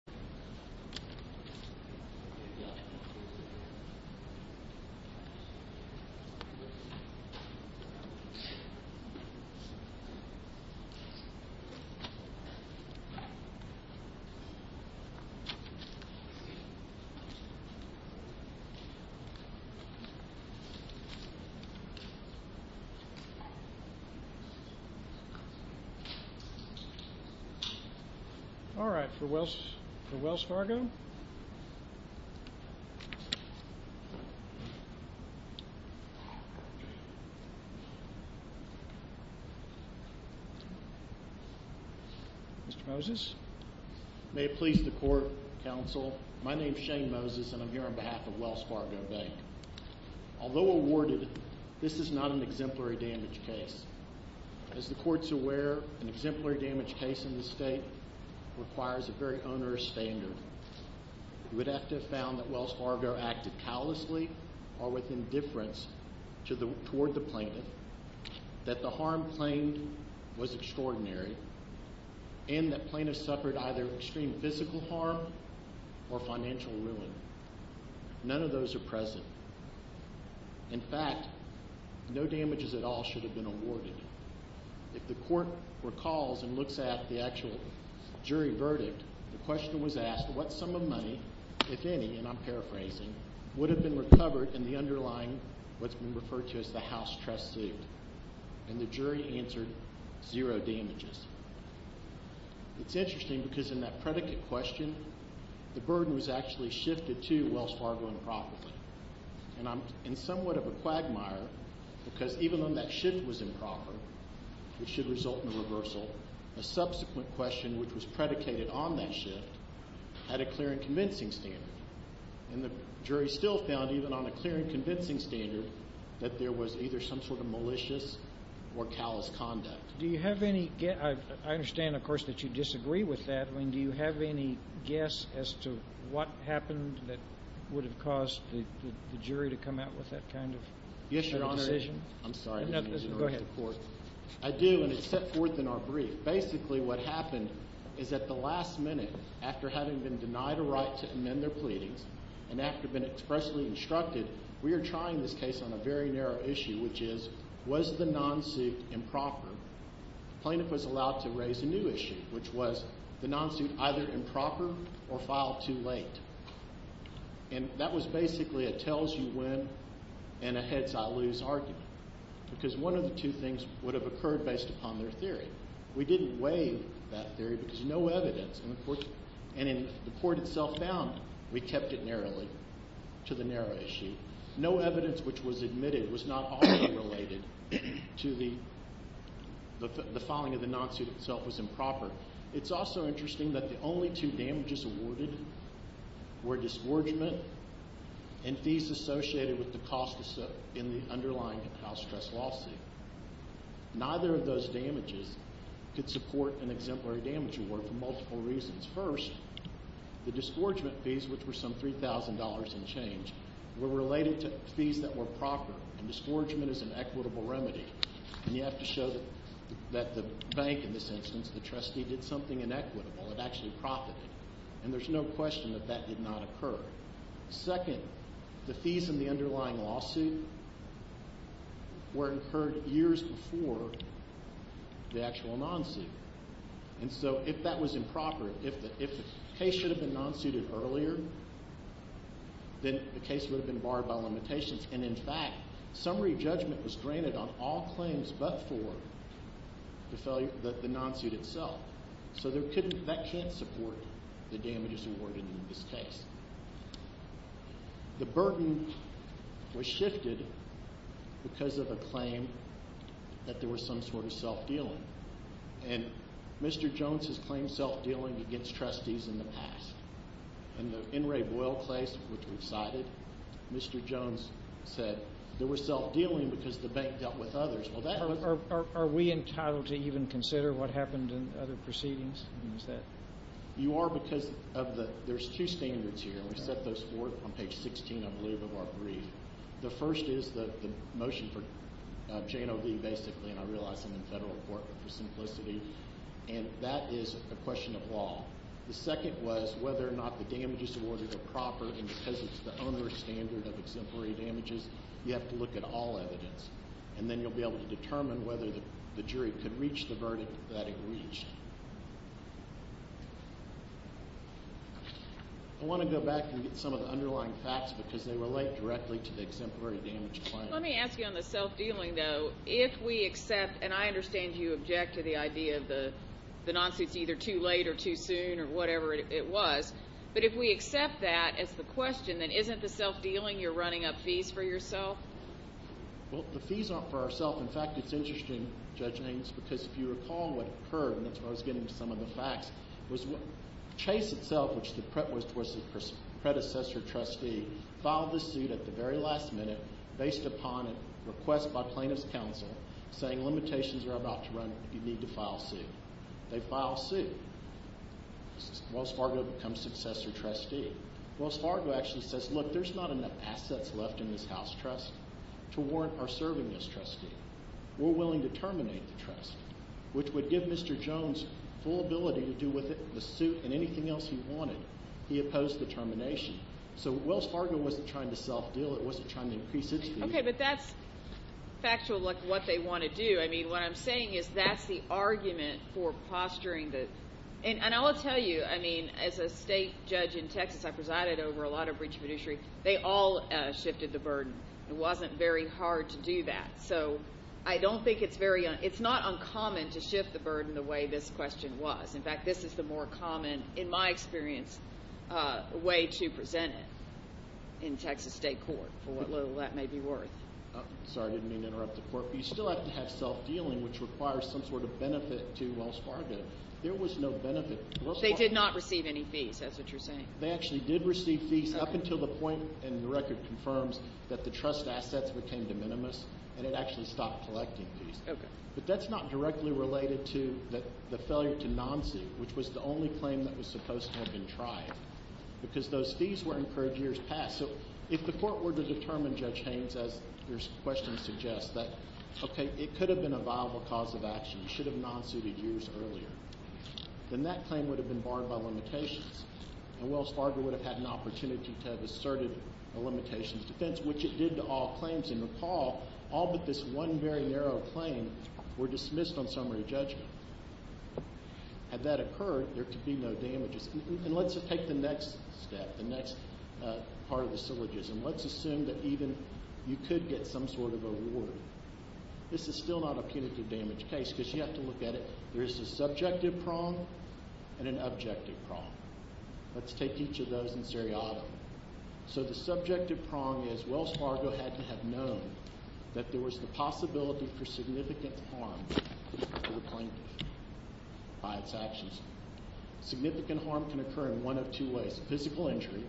v. Wells Fargo Bank, N.A., et a v. Wells Fargo Bank, N.A., et a v. Wells Fargo Bank, N.A., et a This is not an exemplary damage case. As the Court's aware, an exemplary damage case in this state requires a very onerous standard. You would have to have found that Wells Fargo acted callously or with indifference toward the plaintiff, that the harm claimed was extraordinary, and that the plaintiff suffered either extreme physical harm or financial ruin. None of those are present. In fact, no damages at all should have been awarded. If the Court recalls and looks at the actual jury verdict, the question was asked, what sum of money, if any, and I'm paraphrasing, would have been recovered in the underlying, what's been referred to as the house trust suit? And the jury answered, zero damages. It's interesting because in that predicate question, the burden was actually shifted to Wells Fargo improperly. And I'm somewhat of a quagmire because even though that shift was improper, which should result in a reversal, a subsequent question, which was predicated on that shift, had a clear and convincing standard. And the jury still found, even on a clear and convincing standard, that there was either some sort of malicious or callous conduct. Do you have any... I understand, of course, that you disagree with that. I mean, do you have any guess as to what happened that would have caused the jury to come out with that kind of decision? Yes, Your Honor. I'm sorry. Go ahead. I do, and it's set forth in our brief. Basically what happened is at the last minute, after having been denied a right to amend their pleadings and after being expressly instructed, we are trying this case on a very narrow issue, which is, was the non-suit improper? The plaintiff was allowed to raise a new issue, which was the non-suit either improper or filed too late. And that was basically a tells-you-when and a heads-I-lose argument because one of the two things would have occurred based upon their theory. We didn't weigh that theory because no evidence, and the court itself found we kept it narrowly to the narrow issue. No evidence which was admitted was not also related to the... It's also interesting that the only two damages awarded were disgorgement and fees associated with the cost in the underlying house trust lawsuit. Neither of those damages could support an exemplary damage award for multiple reasons. First, the disgorgement fees, which were some $3,000 and change, were related to fees that were proper, and disgorgement is an equitable remedy. And you have to show that the bank in this instance, the trustee, did something inequitable. It actually profited. And there's no question that that did not occur. Second, the fees in the underlying lawsuit were incurred years before the actual non-suit. And so if that was improper, if the case should have been non-suited earlier, then the case would have been barred by limitations. And, in fact, summary judgment was granted on all claims but for the non-suit itself. So that can't support the damages awarded in this case. The burden was shifted because of a claim that there was some sort of self-dealing. And Mr. Jones has claimed self-dealing against trustees in the past. In the N. Ray Boyle case, which we've cited, Mr. Jones said there was self-dealing because the bank dealt with others. Are we entitled to even consider what happened in other proceedings? You are because there's two standards here. We set those forth on page 16, I believe, of our brief. The first is the motion for J&OB basically, and I realize I'm in federal court, but for simplicity, and that is a question of law. The second was whether or not the damages awarded are proper, and because it's the owner's standard of exemplary damages, you have to look at all evidence. And then you'll be able to determine whether the jury could reach the verdict that it reached. I want to go back and get some of the underlying facts because they relate directly to the exemplary damage claim. Let me ask you on the self-dealing, though. If we accept, and I understand you object to the idea of the non-suit's either too late or too soon or whatever it was, but if we accept that as the question, then isn't the self-dealing you're running up fees for yourself? Well, the fees aren't for ourself. In fact, it's interesting, Judge Haynes, because if you recall what occurred, and that's where I was getting to some of the facts, was Chase itself, which was the predecessor trustee, filed the suit at the very last minute based upon a request by plaintiff's counsel saying limitations are about to run, you need to file a suit. They file a suit. Wells Fargo becomes successor trustee. Wells Fargo actually says, look, there's not enough assets left in this house trust to warrant our serving as trustee. We're willing to terminate the trust, which would give Mr. Jones full ability to do with the suit and anything else he wanted. He opposed the termination. So Wells Fargo wasn't trying to self-deal. It wasn't trying to increase its fees. Okay, but that's factual like what they want to do. I mean, what I'm saying is that's the argument for posturing the – and I will tell you, I mean, as a state judge in Texas, I presided over a lot of breach of fiduciary. They all shifted the burden. It wasn't very hard to do that. So I don't think it's very – it's not uncommon to shift the burden the way this question was. In fact, this is the more common, in my experience, way to present it in Texas state court, for what little that may be worth. Sorry, I didn't mean to interrupt the court, but you still have to have self-dealing, which requires some sort of benefit to Wells Fargo. There was no benefit. They did not receive any fees. That's what you're saying. They actually did receive fees up until the point, and the record confirms, that the trust assets became de minimis and it actually stopped collecting fees. Okay. But that's not directly related to the failure to non-sue, which was the only claim that was supposed to have been tried, because those fees were incurred years past. So if the court were to determine, Judge Haynes, as your question suggests, that, okay, it could have been a viable cause of action. It should have non-suited years earlier. Then that claim would have been barred by limitations, and Wells Fargo would have had an opportunity to have asserted a limitations defense, which it did to all claims. And recall, all but this one very narrow claim were dismissed on summary judgment. Had that occurred, there could be no damages. And let's take the next step, the next part of the syllogism. Let's assume that even you could get some sort of a reward. This is still not a punitive damage case because you have to look at it. There is a subjective prong and an objective prong. Let's take each of those in seriatim. So the subjective prong is Wells Fargo had to have known that there was the possibility for significant harm to the plaintiff by its actions. Significant harm can occur in one of two ways, physical injury,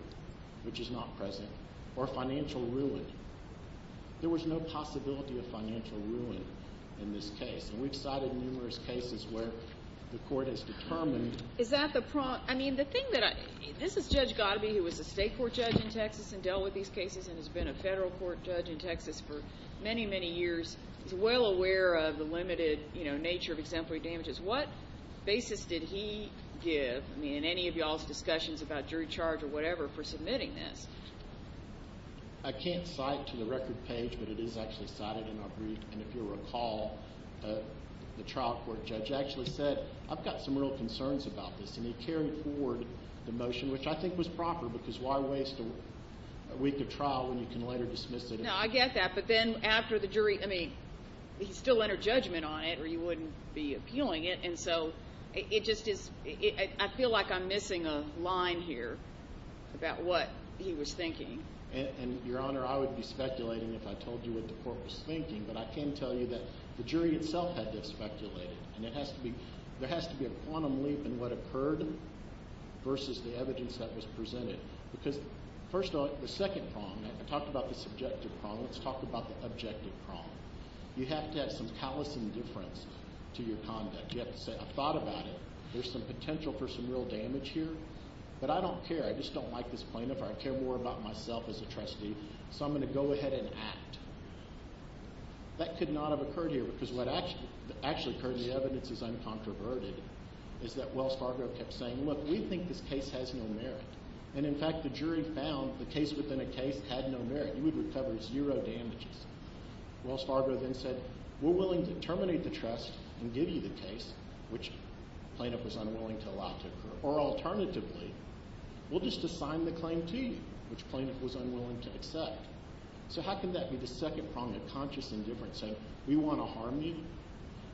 which is not present, or financial ruin. There was no possibility of financial ruin in this case. And we've cited numerous cases where the court has determined. Is that the prong? I mean, the thing that I – this is Judge Gottabe, who was a state court judge in Texas and dealt with these cases and has been a federal court judge in Texas for many, many years. He's well aware of the limited, you know, nature of exemplary damages. What basis did he give in any of y'all's discussions about jury charge or whatever for submitting this? I can't cite to the record page, but it is actually cited in our brief. And if you'll recall, the trial court judge actually said, I've got some real concerns about this. And he carried forward the motion, which I think was proper, because why waste a week of trial when you can later dismiss it. No, I get that. But then after the jury – I mean, he still entered judgment on it or he wouldn't be appealing it. And so it just is – I feel like I'm missing a line here about what he was thinking. And, Your Honor, I would be speculating if I told you what the court was thinking. But I can tell you that the jury itself had to have speculated. And it has to be – there has to be a quantum leap in what occurred versus the evidence that was presented. Because first of all, the second prong, I talked about the subjective prong. Let's talk about the objective prong. You have to have some callous indifference to your conduct. You have to say, I've thought about it. There's some potential for some real damage here, but I don't care. I just don't like this plaintiff or I care more about myself as a trustee, so I'm going to go ahead and act. That could not have occurred here because what actually occurred, the evidence is uncontroverted, is that Wells Fargo kept saying, look, we think this case has no merit. And, in fact, the jury found the case within a case had no merit. You would recover zero damages. Wells Fargo then said, we're willing to terminate the trust and give you the case, which the plaintiff was unwilling to allow to occur. Or, alternatively, we'll just assign the claim to you, which the plaintiff was unwilling to accept. So how can that be the second prong of conscious indifference, saying we want to harm you?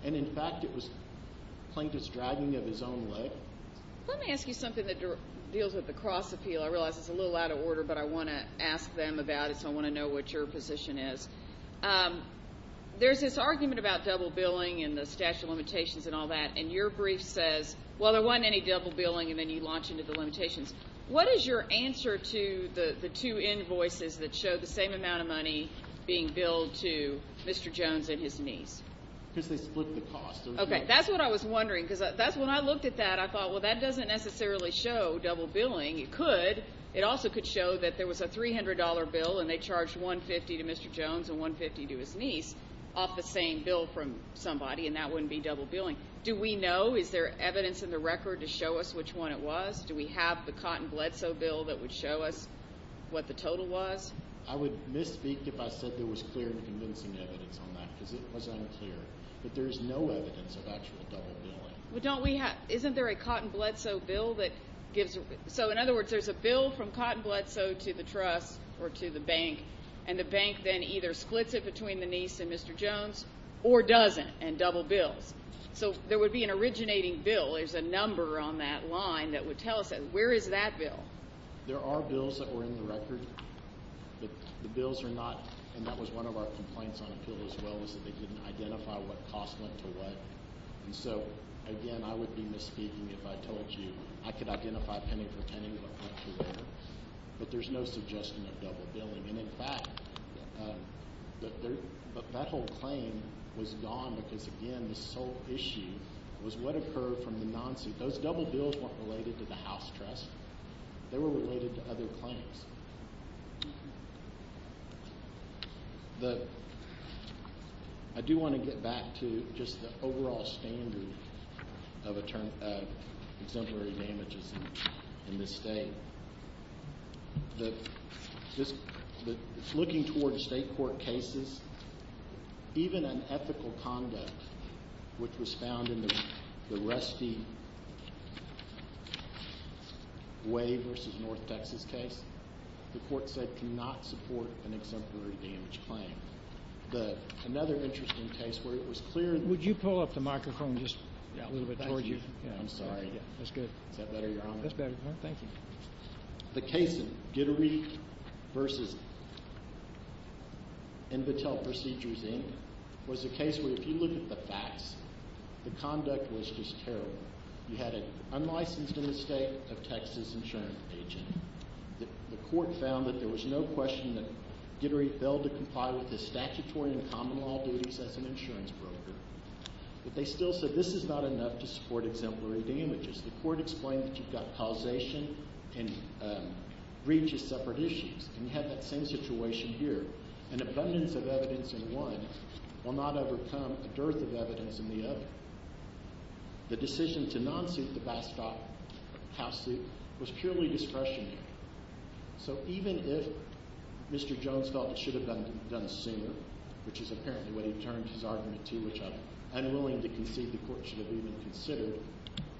And, in fact, it was the plaintiff's dragging of his own leg. Let me ask you something that deals with the cross appeal. I realize it's a little out of order, but I want to ask them about it, so I want to know what your position is. There's this argument about double billing and the statute of limitations and all that, and your brief says, well, there wasn't any double billing, and then you launch into the limitations. What is your answer to the two invoices that show the same amount of money being billed to Mr. Jones and his niece? Because they split the cost. Okay, that's what I was wondering, because when I looked at that, I thought, well, that doesn't necessarily show double billing. It could. It also could show that there was a $300 bill, and they charged $150 to Mr. Jones and $150 to his niece off the same bill from somebody, and that wouldn't be double billing. Do we know? Is there evidence in the record to show us which one it was? Do we have the Cotton Bledsoe bill that would show us what the total was? I would misspeak if I said there was clear and convincing evidence on that, because it was unclear. But there is no evidence of actual double billing. Well, don't we have – isn't there a Cotton Bledsoe bill that gives – so, in other words, there's a bill from Cotton Bledsoe to the trust or to the bank, and the bank then either splits it between the niece and Mr. Jones or doesn't and double bills. So there would be an originating bill. There's a number on that line that would tell us that. Where is that bill? There are bills that were in the record. The bills are not – and that was one of our complaints on appeal as well, was that they didn't identify what cost went to what. And so, again, I would be misspeaking if I told you I could identify penny for penny, but I'm not sure where. But there's no suggestion of double billing. And, in fact, that whole claim was gone because, again, the sole issue was what occurred from the nonce. Those double bills weren't related to the House trust. They were related to other claims. I do want to get back to just the overall standard of exemplary damages in this state. The – looking toward state court cases, even an ethical conduct, which was found in the Rusty Way v. North Texas case, the court said cannot support an exemplary damage claim. Another interesting case where it was clear – Would you pull up the microphone just a little bit toward you? I'm sorry. That's good. Is that better, Your Honor? That's better, Your Honor. Thank you. The case of Gittery v. Invatel Procedures, Inc. was a case where, if you look at the facts, the conduct was just terrible. You had an unlicensed in the state of Texas insurance agent. The court found that there was no question that Gittery failed to comply with his statutory and common law duties as an insurance broker. But they still said this is not enough to support exemplary damages. The court explained that you've got causation and breach of separate issues, and you have that same situation here. An abundance of evidence in one will not overcome a dearth of evidence in the other. The decision to non-suit the Bastog House suit was purely discretionary. So even if Mr. Jones felt it should have been done sooner, which is apparently what he turned his argument to, which I'm unwilling to concede the court should have even considered,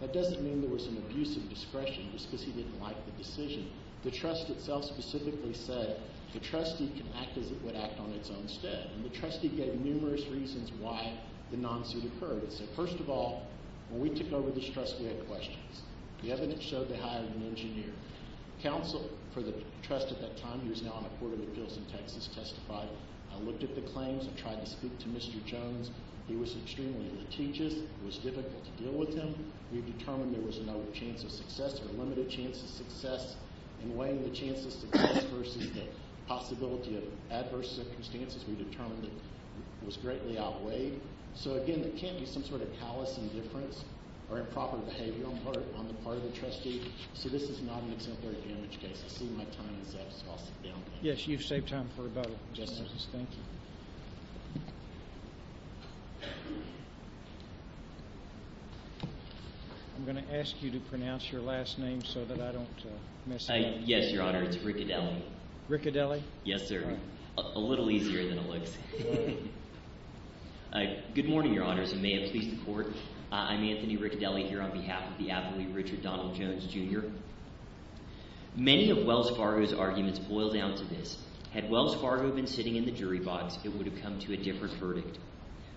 that doesn't mean there was an abuse of discretion just because he didn't like the decision. The trust itself specifically said the trustee can act as it would act on its own stead. And the trustee gave numerous reasons why the non-suit occurred. It said, first of all, when we took over this trust, we had questions. The evidence showed they hired an engineer. Counsel for the trust at that time, who is now on a court of appeals in Texas, testified. I looked at the claims and tried to speak to Mr. Jones. He was extremely litigious. It was difficult to deal with him. We determined there was no chance of success or a limited chance of success. In weighing the chance of success versus the possibility of adverse circumstances, we determined it was greatly outweighed. So, again, there can't be some sort of callous indifference or improper behavior on the part of the trustee. So this is not an exemplary damage case. I see my time is up, so I'll sit down. Yes, you've saved time for rebuttal. Thank you. I'm going to ask you to pronounce your last name so that I don't mess it up. Yes, Your Honor, it's Riccidelli. Riccidelli? Yes, sir. A little easier than it looks. Good morning, Your Honors, and may it please the court. I'm Anthony Riccidelli here on behalf of the athlete Richard Donald Jones, Jr. Many of Wells Fargo's arguments boil down to this. Had Wells Fargo been sitting in the jury box, it would have come to a different verdict.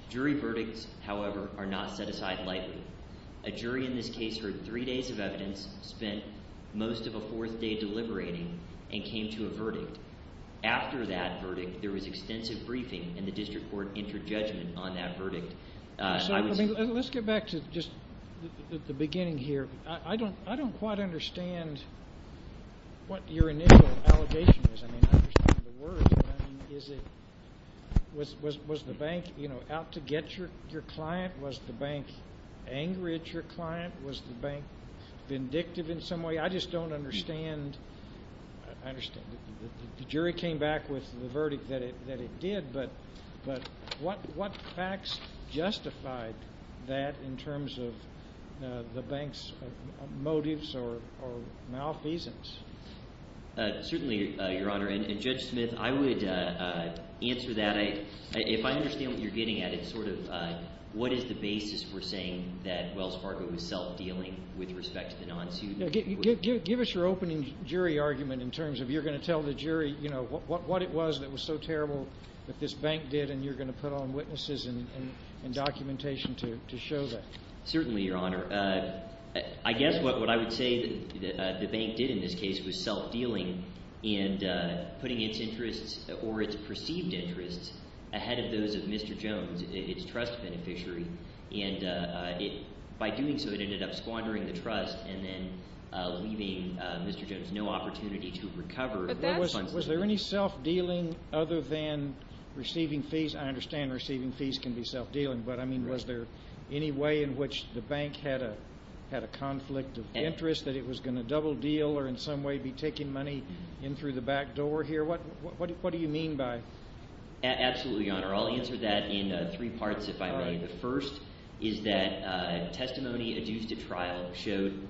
Jury verdicts, however, are not set aside lightly. A jury in this case heard three days of evidence, spent most of a fourth day deliberating, and came to a verdict. After that verdict, there was extensive briefing, and the district court entered judgment on that verdict. Let's get back to just the beginning here. I don't quite understand what your initial allegation was. I mean, I understand the words, but, I mean, was the bank, you know, out to get your client? Was the bank angry at your client? Was the bank vindictive in some way? I just don't understand. I understand. The jury came back with the verdict that it did, but what facts justified that in terms of the bank's motives or malfeasance? Certainly, Your Honor, and Judge Smith, I would answer that. If I understand what you're getting at, it's sort of what is the basis for saying that Wells Fargo was self-dealing with respect to the non-suit? Give us your opening jury argument in terms of you're going to tell the jury, you know, what it was that was so terrible that this bank did, and you're going to put on witnesses and documentation to show that. Certainly, Your Honor. I guess what I would say that the bank did in this case was self-dealing and putting its interests or its perceived interests ahead of those of Mr. Jones, its trust beneficiary. And by doing so, it ended up squandering the trust and then leaving Mr. Jones no opportunity to recover. Was there any self-dealing other than receiving fees? I understand receiving fees can be self-dealing, but, I mean, was there any way in which the bank had a conflict of interest that it was going to double deal or in some way be taking money in through the back door here? What do you mean by – Absolutely, Your Honor. I'll answer that in three parts, if I may. The first is that testimony adduced at trial showed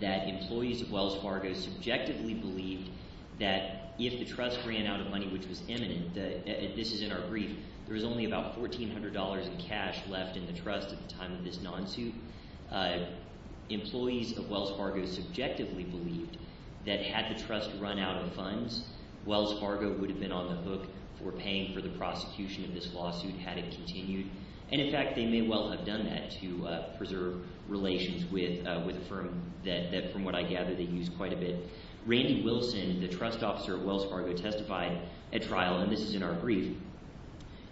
that employees of Wells Fargo subjectively believed that if the trust ran out of money, which was imminent – this is in our brief – there was only about $1,400 in cash left in the trust at the time of this non-suit. Employees of Wells Fargo subjectively believed that had the trust run out of funds, Wells Fargo would have been on the hook for paying for the prosecution of this lawsuit had it continued. And, in fact, they may well have done that to preserve relations with a firm that, from what I gather, they used quite a bit. Randy Wilson, the trust officer at Wells Fargo, testified at trial, and this is in our brief.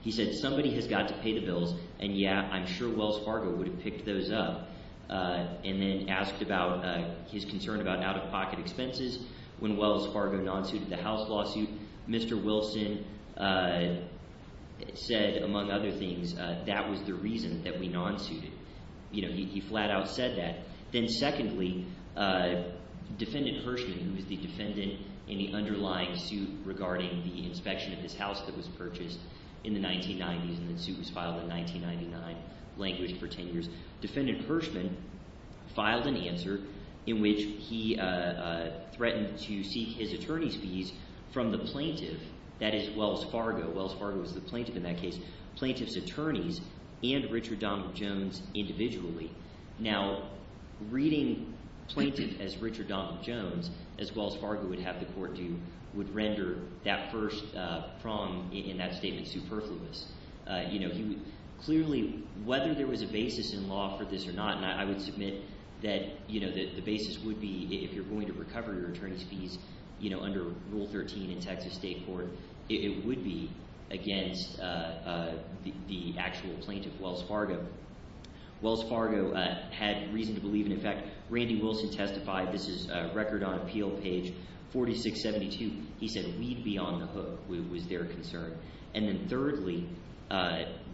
He said somebody has got to pay the bills, and yeah, I'm sure Wells Fargo would have picked those up and then asked about his concern about out-of-pocket expenses. When Wells Fargo non-suited the house lawsuit, Mr. Wilson said, among other things, that was the reason that we non-suited. He flat-out said that. Then secondly, Defendant Hirschman, who is the defendant in the underlying suit regarding the inspection of his house that was purchased in the 1990s, and the suit was filed in 1999, language for ten years. Defendant Hirschman filed an answer in which he threatened to seek his attorney's fees from the plaintiff, that is, Wells Fargo. Wells Fargo is the plaintiff in that case, plaintiff's attorneys, and Richard Donald Jones individually. Now, reading plaintiff as Richard Donald Jones, as Wells Fargo would have the court do, would render that first prong in that statement superfluous. Clearly, whether there was a basis in law for this or not, and I would submit that the basis would be if you're going to recover your attorney's fees under Rule 13 in Texas state court, it would be against the actual plaintiff, Wells Fargo. Wells Fargo had reason to believe, and in fact, Randy Wilson testified. This is Record on Appeal, page 4672. He said we'd be on the hook was their concern. And then thirdly,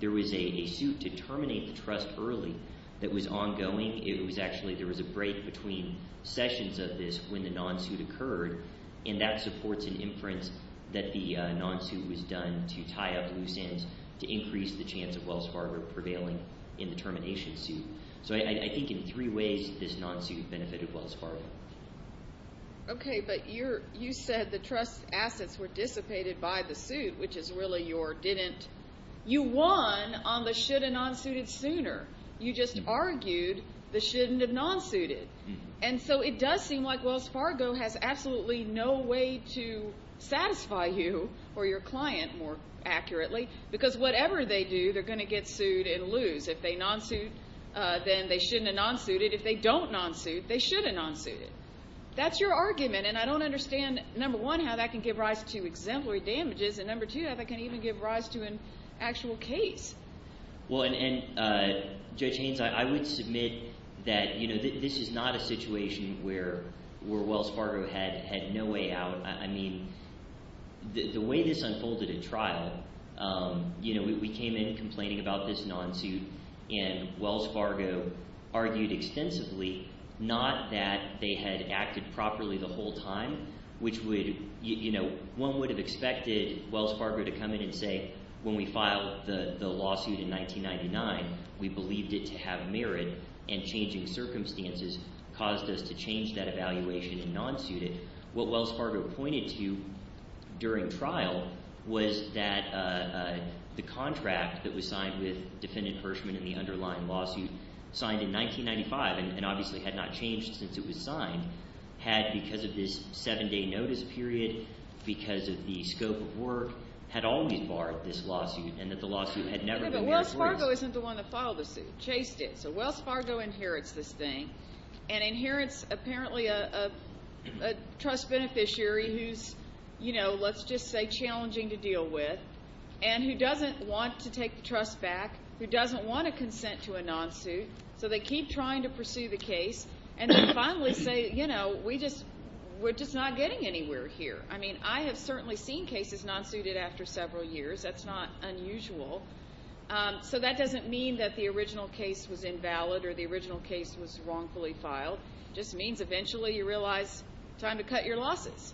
there was a suit to terminate the trust early that was ongoing. It was actually – there was a break between sessions of this when the non-suit occurred, and that supports an inference that the non-suit was done to tie up loose ends to increase the chance of Wells Fargo prevailing in the termination suit. So I think in three ways this non-suit benefited Wells Fargo. Okay, but you said the trust assets were dissipated by the suit, which is really your didn't – you won on the should have non-suited sooner. You just argued the shouldn't have non-suited. And so it does seem like Wells Fargo has absolutely no way to satisfy you or your client more accurately because whatever they do, they're going to get sued and lose. If they non-suit, then they shouldn't have non-suited. If they don't non-suit, they should have non-suited. That's your argument, and I don't understand, number one, how that can give rise to exemplary damages, and number two, how that can even give rise to an actual case. Well, and Judge Haynes, I would submit that this is not a situation where Wells Fargo had no way out. I mean the way this unfolded at trial, we came in complaining about this non-suit, and Wells Fargo argued extensively not that they had acted properly the whole time, which would – one would have expected Wells Fargo to come in and say when we filed the lawsuit in 1999, we believed it to have merit, and changing circumstances caused us to change that evaluation and non-suit it. What Wells Fargo pointed to during trial was that the contract that was signed with Defendant Hirschman in the underlying lawsuit, signed in 1995 and obviously had not changed since it was signed, had because of this seven-day notice period, because of the scope of work, had always barred this lawsuit and that the lawsuit had never been – Well, Wells Fargo isn't the one that filed the suit. Chase did. So Wells Fargo inherits this thing and inherits apparently a trust beneficiary who's, you know, let's just say challenging to deal with, and who doesn't want to take the trust back, who doesn't want to consent to a non-suit, so they keep trying to pursue the case, and they finally say, you know, we're just not getting anywhere here. I mean I have certainly seen cases non-suited after several years. That's not unusual. So that doesn't mean that the original case was invalid or the original case was wrongfully filed. It just means eventually you realize time to cut your losses.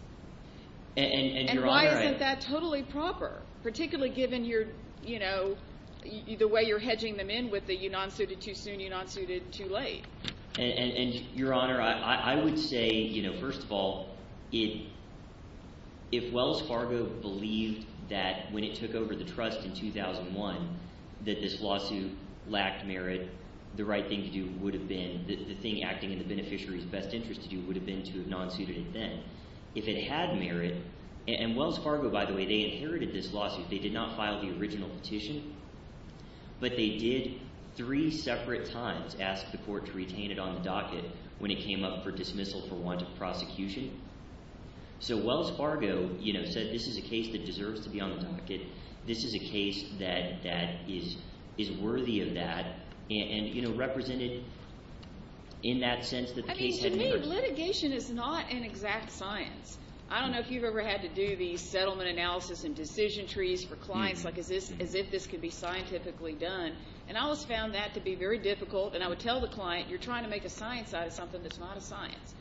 And why isn't that totally proper, particularly given your – the way you're hedging them in with the you non-suited too soon, you non-suited too late? And, Your Honor, I would say, first of all, if Wells Fargo believed that when it took over the trust in 2001 that this lawsuit lacked merit, the right thing to do would have been – the thing acting in the beneficiary's best interest to do would have been to have non-suited it then. If it had merit – and Wells Fargo, by the way, they inherited this lawsuit. They did not file the original petition, but they did three separate times ask the court to retain it on the docket when it came up for dismissal for want of prosecution. So Wells Fargo said this is a case that deserves to be on the docket. This is a case that is worthy of that and represented in that sense that the case had merit. But, I mean, litigation is not an exact science. I don't know if you've ever had to do the settlement analysis and decision trees for clients like as if this could be scientifically done. And I always found that to be very difficult, and I would tell the client you're trying to make a science out of something that's not a science.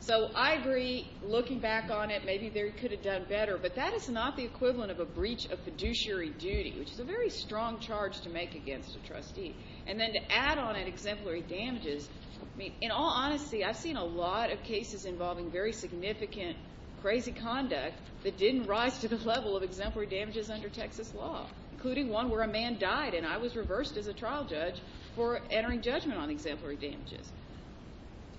So I agree, looking back on it, maybe they could have done better, but that is not the equivalent of a breach of fiduciary duty, which is a very strong charge to make against a trustee. And then to add on at exemplary damages, I mean, in all honesty, I've seen a lot of cases involving very significant, crazy conduct that didn't rise to the level of exemplary damages under Texas law, including one where a man died and I was reversed as a trial judge for entering judgment on exemplary damages.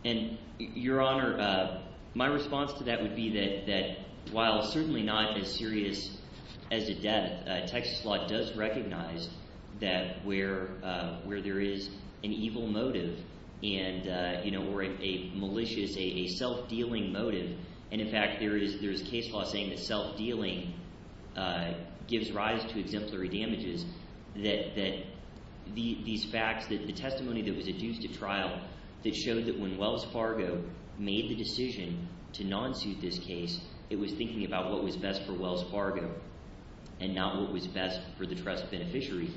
And, Your Honor, my response to that would be that while certainly not as serious as the death, Texas law does recognize that where there is an evil motive and – or a malicious, a self-dealing motive. And, in fact, there is case law saying that self-dealing gives rise to exemplary damages, that these facts, the testimony that was adduced at trial that showed that when Wells Fargo made the decision to non-suit this case, it was thinking about what was best for Wells Fargo and not what was best for the trust beneficiary.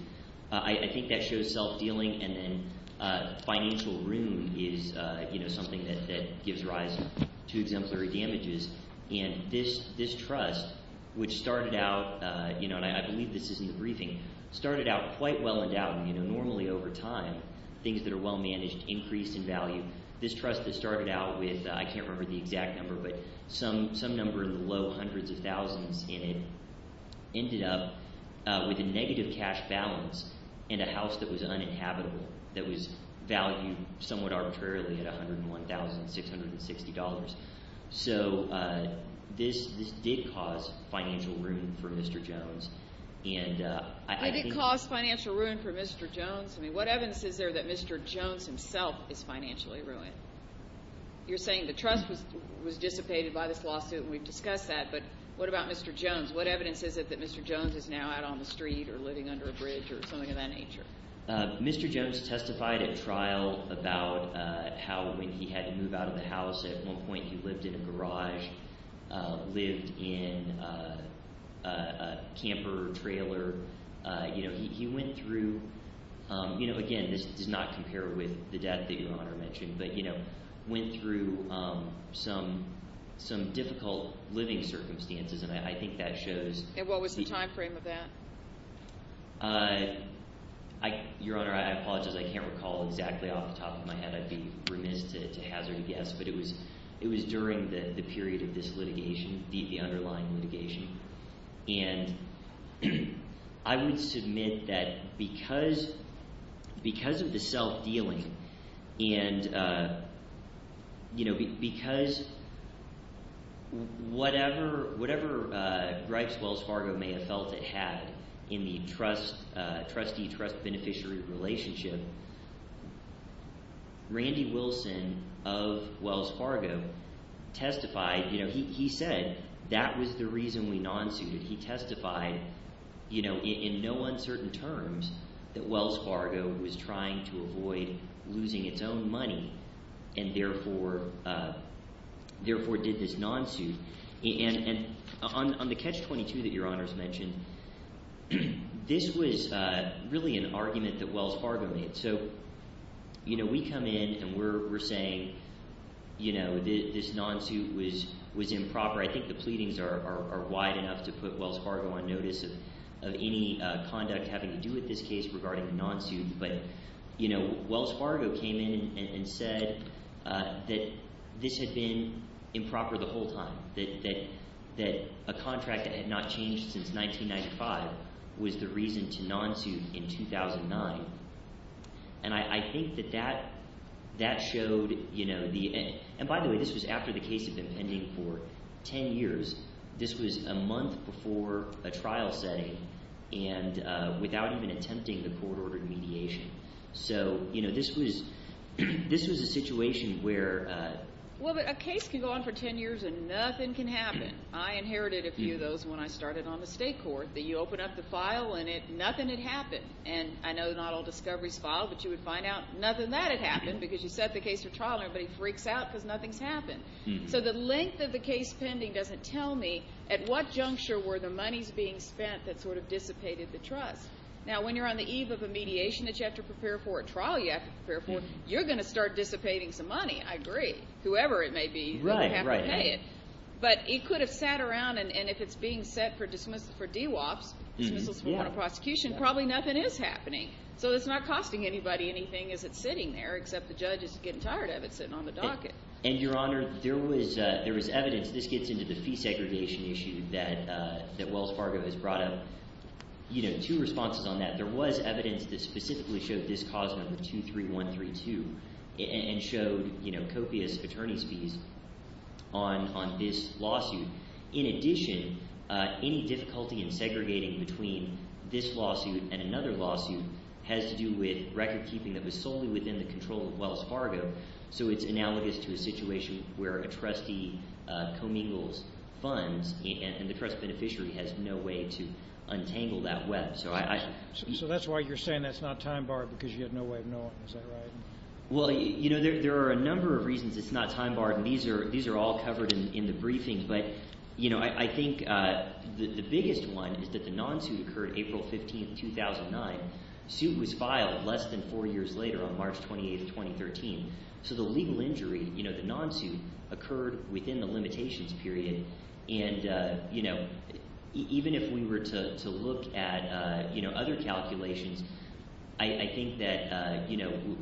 I think that shows self-dealing, and then financial ruin is something that gives rise to exemplary damages. And this trust, which started out – and I believe this is in the briefing – started out quite well endowed. Normally over time, things that are well managed increase in value. This trust that started out with – I can't remember the exact number, but some number in the low hundreds of thousands in it ended up with a negative cash balance and a house that was uninhabitable that was valued somewhat arbitrarily at $101,660. So this did cause financial ruin for Mr. Jones. And I think – It did cause financial ruin for Mr. Jones? I mean what evidence is there that Mr. Jones himself is financially ruined? You're saying the trust was dissipated by this lawsuit, and we've discussed that, but what about Mr. Jones? What evidence is it that Mr. Jones is now out on the street or living under a bridge or something of that nature? Mr. Jones testified at trial about how when he had to move out of the house at one point he lived in a garage, lived in a camper trailer. He went through – again, this does not compare with the death that Your Honor mentioned, but went through some difficult living circumstances, and I think that shows – And what was the timeframe of that? Your Honor, I apologize. I can't recall exactly off the top of my head. I'd be remiss to hazard a guess, but it was during the period of this litigation, the underlying litigation. And I would submit that because of the self-dealing and because whatever gripes Wells Fargo may have felt it had in the trustee-trust beneficiary relationship, Randy Wilson of Wells Fargo testified. He said that was the reason we non-suited. He testified in no uncertain terms that Wells Fargo was trying to avoid losing its own money and therefore did this non-suit. And on the Catch-22 that Your Honor has mentioned, this was really an argument that Wells Fargo made. So we come in, and we're saying this non-suit was improper. I think the pleadings are wide enough to put Wells Fargo on notice of any conduct having to do with this case regarding the non-suit. But Wells Fargo came in and said that this had been improper the whole time, that a contract that had not changed since 1995 was the reason to non-suit in 2009. And I think that that showed – and by the way, this was after the case had been pending for ten years. This was a month before a trial setting and without even attempting the court-ordered mediation. So this was a situation where – Well, a case can go on for ten years and nothing can happen. I inherited a few of those when I started on the state court. You open up the file and nothing had happened. And I know not all discoveries file, but you would find out nothing that had happened because you set the case for trial and everybody freaks out because nothing's happened. So the length of the case pending doesn't tell me at what juncture were the monies being spent that sort of dissipated the trust. Now, when you're on the eve of a mediation that you have to prepare for, a trial you have to prepare for, you're going to start dissipating some money. I agree. Whoever it may be, you're going to have to pay it. But it could have sat around, and if it's being set for DWOPs, dismissals for warrant of prosecution, probably nothing is happening. So it's not costing anybody anything as it's sitting there, except the judge is getting tired of it sitting on the docket. And, Your Honor, there was evidence – this gets into the fee segregation issue that Wells Fargo has brought up – two responses on that. There was evidence that specifically showed this cause number, 23132, and showed copious attorney's fees on this lawsuit. In addition, any difficulty in segregating between this lawsuit and another lawsuit has to do with recordkeeping that was solely within the control of Wells Fargo. So it's analogous to a situation where a trustee commingles funds, and the trust beneficiary has no way to untangle that web. So that's why you're saying that's not time-barred because you had no way of knowing. Is that right? Well, there are a number of reasons it's not time-barred, and these are all covered in the briefing. But I think the biggest one is that the non-suit occurred April 15, 2009. The suit was filed less than four years later on March 28, 2013. So the legal injury, the non-suit, occurred within the limitations period. And even if we were to look at other calculations, I think that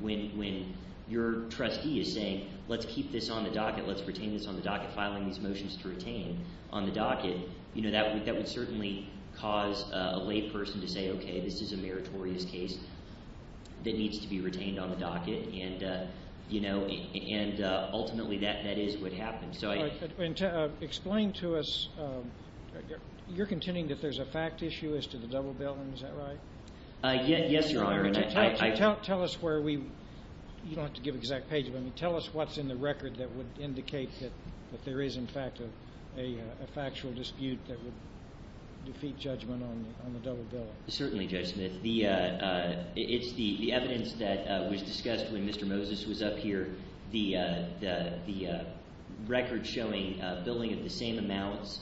when your trustee is saying, let's keep this on the docket, let's retain this on the docket, filing these motions to retain on the docket, that would certainly cause a layperson to say, okay, this is a meritorious case that needs to be retained on the docket. And ultimately, that is what happened. And explain to us – you're contending that there's a fact issue as to the double bill, and is that right? Yes, Your Honor. Tell us where we – you don't have to give an exact page, but tell us what's in the record that would indicate that there is, in fact, a factual dispute that would defeat judgment on the double bill. Certainly, Judge Smith. It's the evidence that was discussed when Mr. Moses was up here, the record showing billing of the same amounts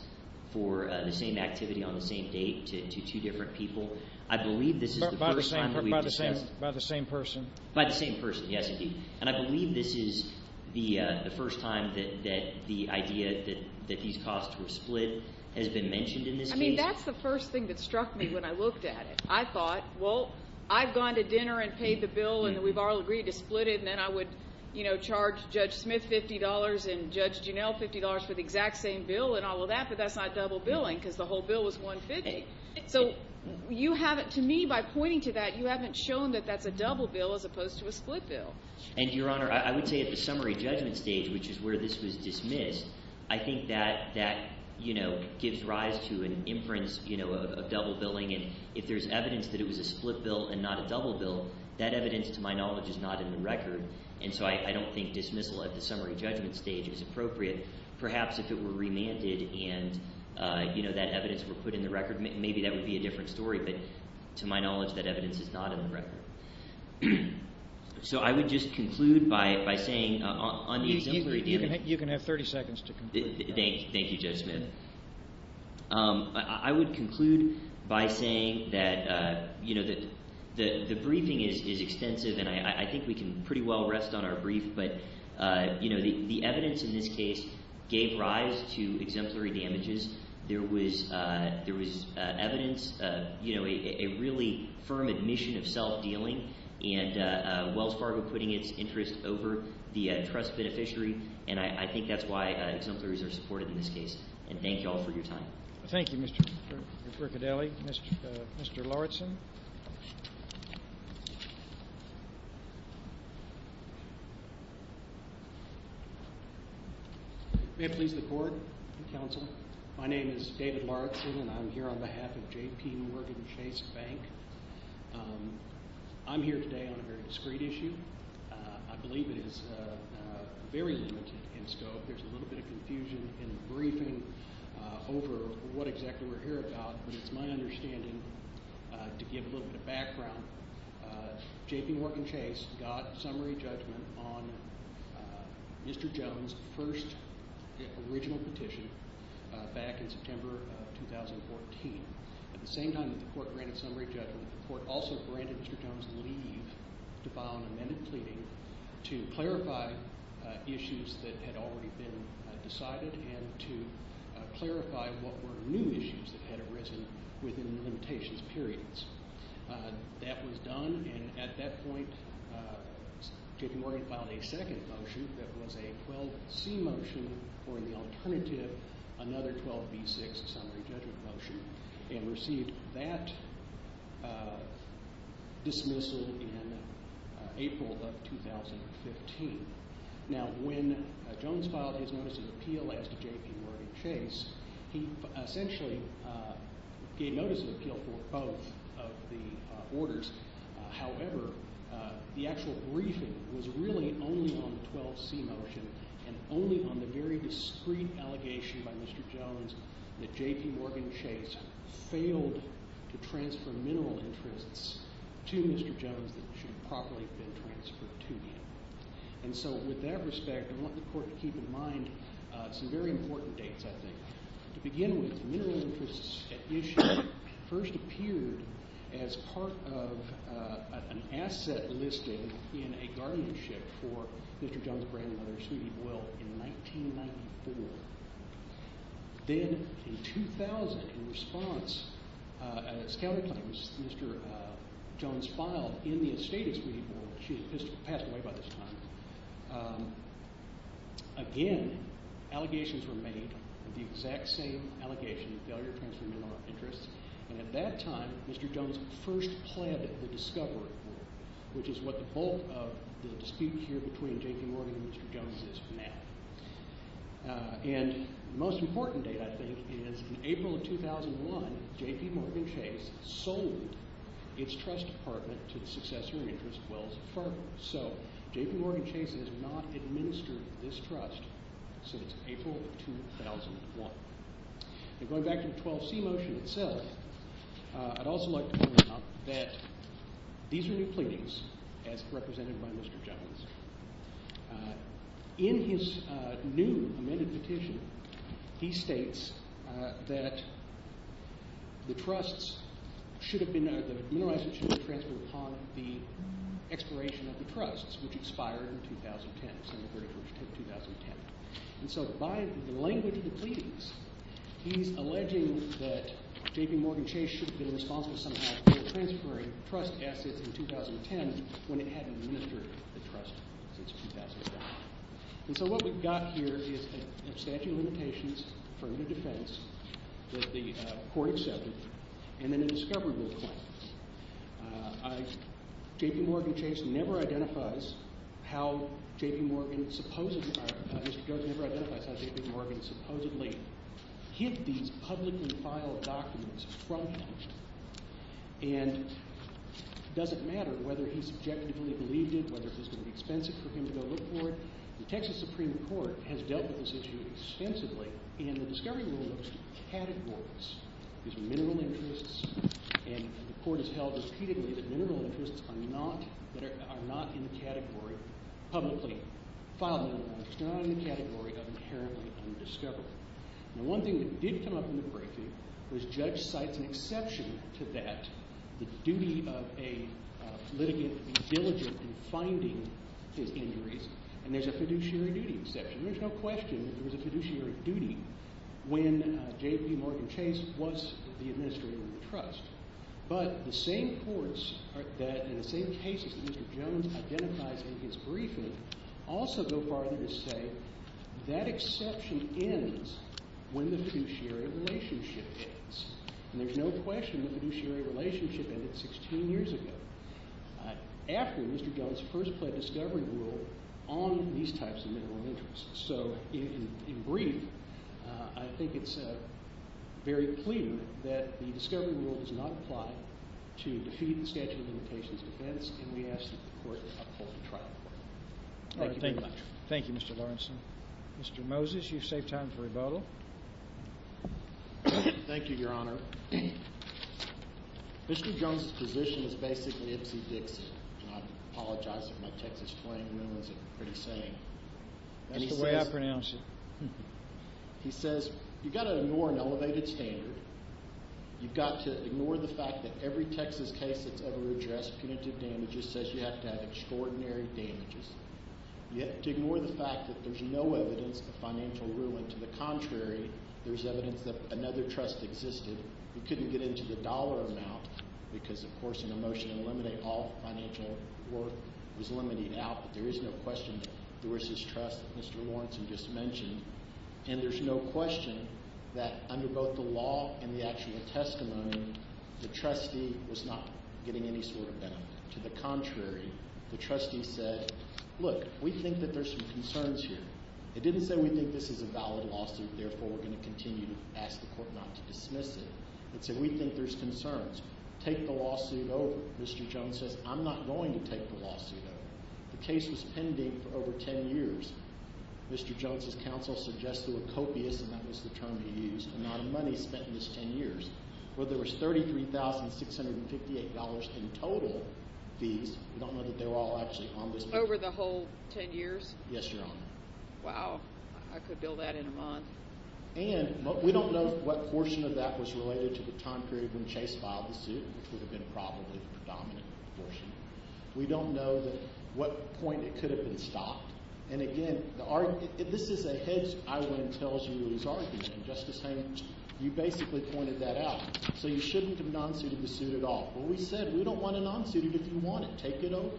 for the same activity on the same date to two different people. I believe this is the first time that we've discussed – By the same person. By the same person, yes, indeed. And I believe this is the first time that the idea that these costs were split has been mentioned in this case. I mean, that's the first thing that struck me when I looked at it. I thought, well, I've gone to dinner and paid the bill, and we've all agreed to split it, and then I would charge Judge Smith $50 and Judge Juneau $50 for the exact same bill and all of that, but that's not double billing because the whole bill was $150. So you haven't – to me, by pointing to that, you haven't shown that that's a double bill as opposed to a split bill. And, Your Honor, I would say at the summary judgment stage, which is where this was dismissed, I think that that gives rise to an inference of double billing. And if there's evidence that it was a split bill and not a double bill, that evidence, to my knowledge, is not in the record. And so I don't think dismissal at the summary judgment stage is appropriate. Perhaps if it were remanded and that evidence were put in the record, maybe that would be a different story. But to my knowledge, that evidence is not in the record. So I would just conclude by saying on the exemplary damages… You can have 30 seconds to conclude. Thank you, Judge Smith. I would conclude by saying that the briefing is extensive, and I think we can pretty well rest on our brief. But the evidence in this case gave rise to exemplary damages. There was evidence, a really firm admission of self-dealing and Wells Fargo putting its interest over the trust beneficiary. And I think that's why exemplaries are supported in this case. And thank you all for your time. Thank you, Mr. Riccardelli. Mr. Lawretson. May it please the Court and counsel, my name is David Lawretson, and I'm here on behalf of J.P. Morgan Chase Bank. I'm here today on a very discreet issue. I believe it is very limited in scope. There's a little bit of confusion in the briefing over what exactly we're here about. But it's my understanding, to give a little bit of background, J.P. Morgan Chase got summary judgment on Mr. Jones' first original petition back in September of 2014. At the same time that the Court granted summary judgment, the Court also granted Mr. Jones' leave to file an amended pleading to clarify issues that had already been decided and to clarify what were new issues that had arisen within the limitations periods. That was done, and at that point, J.P. Morgan filed a second motion that was a 12C motion, or in the alternative, another 12B6 summary judgment motion, and received that dismissal in April of 2015. Now, when Jones filed his notice of appeal as to J.P. Morgan Chase, he essentially gave notice of appeal for both of the orders. However, the actual briefing was really only on the 12C motion and only on the very discreet allegation by Mr. Jones that J.P. Morgan Chase failed to transfer mineral interests to Mr. Jones that should have properly been transferred to him. And so with that respect, I want the Court to keep in mind some very important dates, I think. To begin with, mineral interests at issue first appeared as part of an asset listing in a guardianship for Mr. Jones' grandmother, Sweetie Boyle, in 1994. Then in 2000, in response, at a scouting conference, Mr. Jones filed in the estate of Sweetie Boyle. She had passed away by this time. Again, allegations were made of the exact same allegation of failure to transfer mineral interests, and at that time, Mr. Jones first pled the discovery board, which is what the bulk of the dispute here between J.P. Morgan and Mr. Jones is now. And the most important date, I think, is in April of 2001, J.P. Morgan Chase sold its trust apartment to the successor interest, Wells Fargo. So J.P. Morgan Chase has not administered this trust since April of 2001. And going back to the 12C motion itself, I'd also like to point out that these are new pleadings as represented by Mr. Jones. In his new amended petition, he states that the trusts should have been—the mineral assets should have been transferred upon the expiration of the trusts, which expired in 2010, December 31, 2010. And so by the language of the pleadings, he's alleging that J.P. Morgan Chase should have been responsible somehow for transferring trust assets in 2010 when it hadn't administered the trust since 2009. And so what we've got here is an abstention of limitations, affirmative defense that the court accepted, and then a discovery board claim. J.P. Morgan Chase never identifies how J.P. Morgan supposedly—Mr. Jones never identifies how J.P. Morgan supposedly hid these publicly filed documents from him. And it doesn't matter whether he subjectively believed it, whether it was going to be expensive for him to go look for it. The Texas Supreme Court has dealt with this issue extensively, and the discovery rule looks to categories. These are mineral interests, and the court has held repeatedly that mineral interests are not in the category of publicly filed documents. They're not in the category of inherently undiscovered. Now, one thing that did come up in the briefing was judge cites an exception to that, the duty of a litigant and diligent in finding his injuries, and there's a fiduciary duty exception. There's no question that there was a fiduciary duty when J.P. Morgan Chase was the administrator of the trust. But the same courts that, in the same cases that Mr. Jones identifies in his briefing, also go farther to say that exception ends when the fiduciary relationship ends. And there's no question that the fiduciary relationship ended 16 years ago after Mr. Jones first pled discovery rule on these types of mineral interests. So in brief, I think it's very clear that the discovery rule does not apply to defeat the statute of limitations defense, and we ask that the court uphold the trial court. Thank you very much. Thank you, Mr. Lawrenson. Mr. Moses, you've saved time for rebuttal. Thank you, Your Honor. Mr. Jones's position is basically Ipsy-Dixie, and I apologize if my Texas plain rule isn't pretty sane. That's the way I pronounce it. He says you've got to ignore an elevated standard. You've got to ignore the fact that every Texas case that's ever addressed, punitive damages, says you have to have extraordinary damages. You have to ignore the fact that there's no evidence of financial ruin. To the contrary, there's evidence that another trust existed. We couldn't get into the dollar amount because, of course, in a motion to eliminate all financial worth was limited out, but there is no question that there was this trust that Mr. Lawrenson just mentioned. And there's no question that under both the law and the actual testimony, the trustee was not getting any sort of benefit. To the contrary, the trustee said, look, we think that there's some concerns here. It didn't say we think this is a valid lawsuit, therefore we're going to continue to ask the court not to dismiss it. It said we think there's concerns. Take the lawsuit over. Mr. Jones says I'm not going to take the lawsuit over. The case was pending for over 10 years. Mr. Jones's counsel suggested a copious, and that was the term he used, amount of money spent in this 10 years. Well, there was $33,658 in total fees. We don't know that they were all actually on this bill. Over the whole 10 years? Yes, Your Honor. Wow. I could build that in a month. And we don't know what portion of that was related to the time period when Chase filed the suit, which would have been probably the predominant portion. We don't know what point it could have been stopped. And, again, this is a hedge I would tell you is argued, and Justice Haynes, you basically pointed that out. So you shouldn't have non-suited the suit at all. Well, we said we don't want to non-suit it if you want it. Take it over.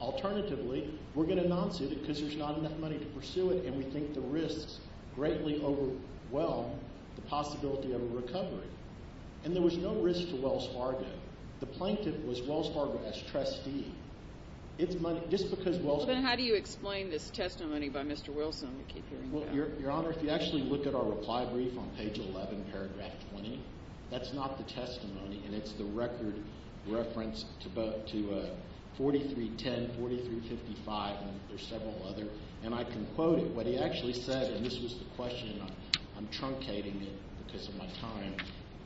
Alternatively, we're going to non-suit it because there's not enough money to pursue it, and we think the risks greatly overwhelm the possibility of a recovery. And there was no risk to Wells Fargo. The plaintiff was Wells Fargo as trustee. Well, then how do you explain this testimony by Mr. Wilson? Your Honor, if you actually look at our reply brief on page 11, paragraph 20, that's not the testimony, and it's the record reference to 4310, 4355, and there's several others. And I can quote what he actually said, and this was the question, and I'm truncating it because of my time.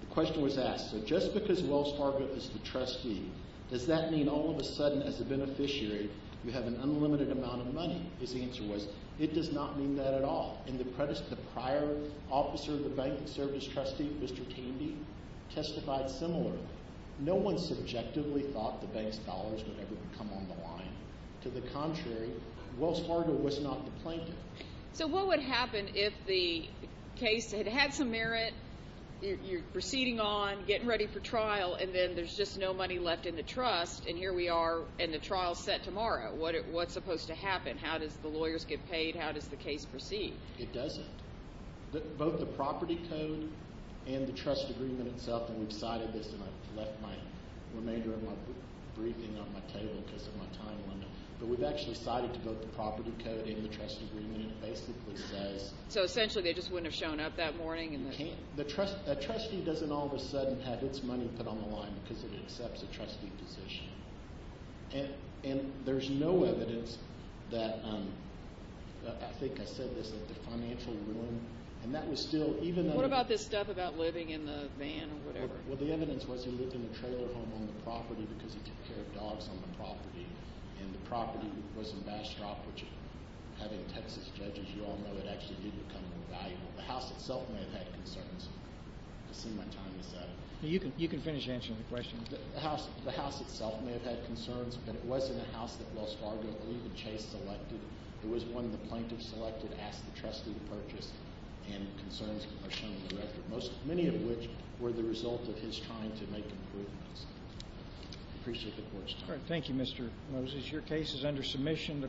The question was asked, so just because Wells Fargo is the trustee, does that mean all of a sudden, as a beneficiary, you have an unlimited amount of money? His answer was, it does not mean that at all. And the prior officer of the bank that served as trustee, Mr. Tandy, testified similarly. No one subjectively thought the bank's dollars would ever come on the line. To the contrary, Wells Fargo was not the plaintiff. So what would happen if the case had had some merit, you're proceeding on, getting ready for trial, and then there's just no money left in the trust, and here we are, and the trial's set tomorrow. What's supposed to happen? How does the lawyers get paid? How does the case proceed? It doesn't. Both the property code and the trust agreement itself, and we've cited this, and I've left my remainder of my briefing on my table because of my time limit. But we've actually cited both the property code and the trust agreement, and it basically says— So essentially they just wouldn't have shown up that morning? A trustee doesn't all of a sudden have its money put on the line because it accepts a trustee position. And there's no evidence that—I think I said this—that the financial ruin, and that was still even though— What about this stuff about living in the van or whatever? Well, the evidence was he lived in a trailer home on the property because he took care of dogs on the property, and the property was in Bastrop, which having Texas judges, you all know, it actually did become invaluable. The House itself may have had concerns. I've seen my time is up. You can finish answering the question. The House itself may have had concerns, but it wasn't a House that Wells Fargo or even Chase selected. It was one the plaintiffs selected to ask the trustee to purchase, and concerns are shown in the record, many of which were the result of his trying to make improvements. I appreciate the Court's time. Thank you, Mr. Moses. Your case is under submission.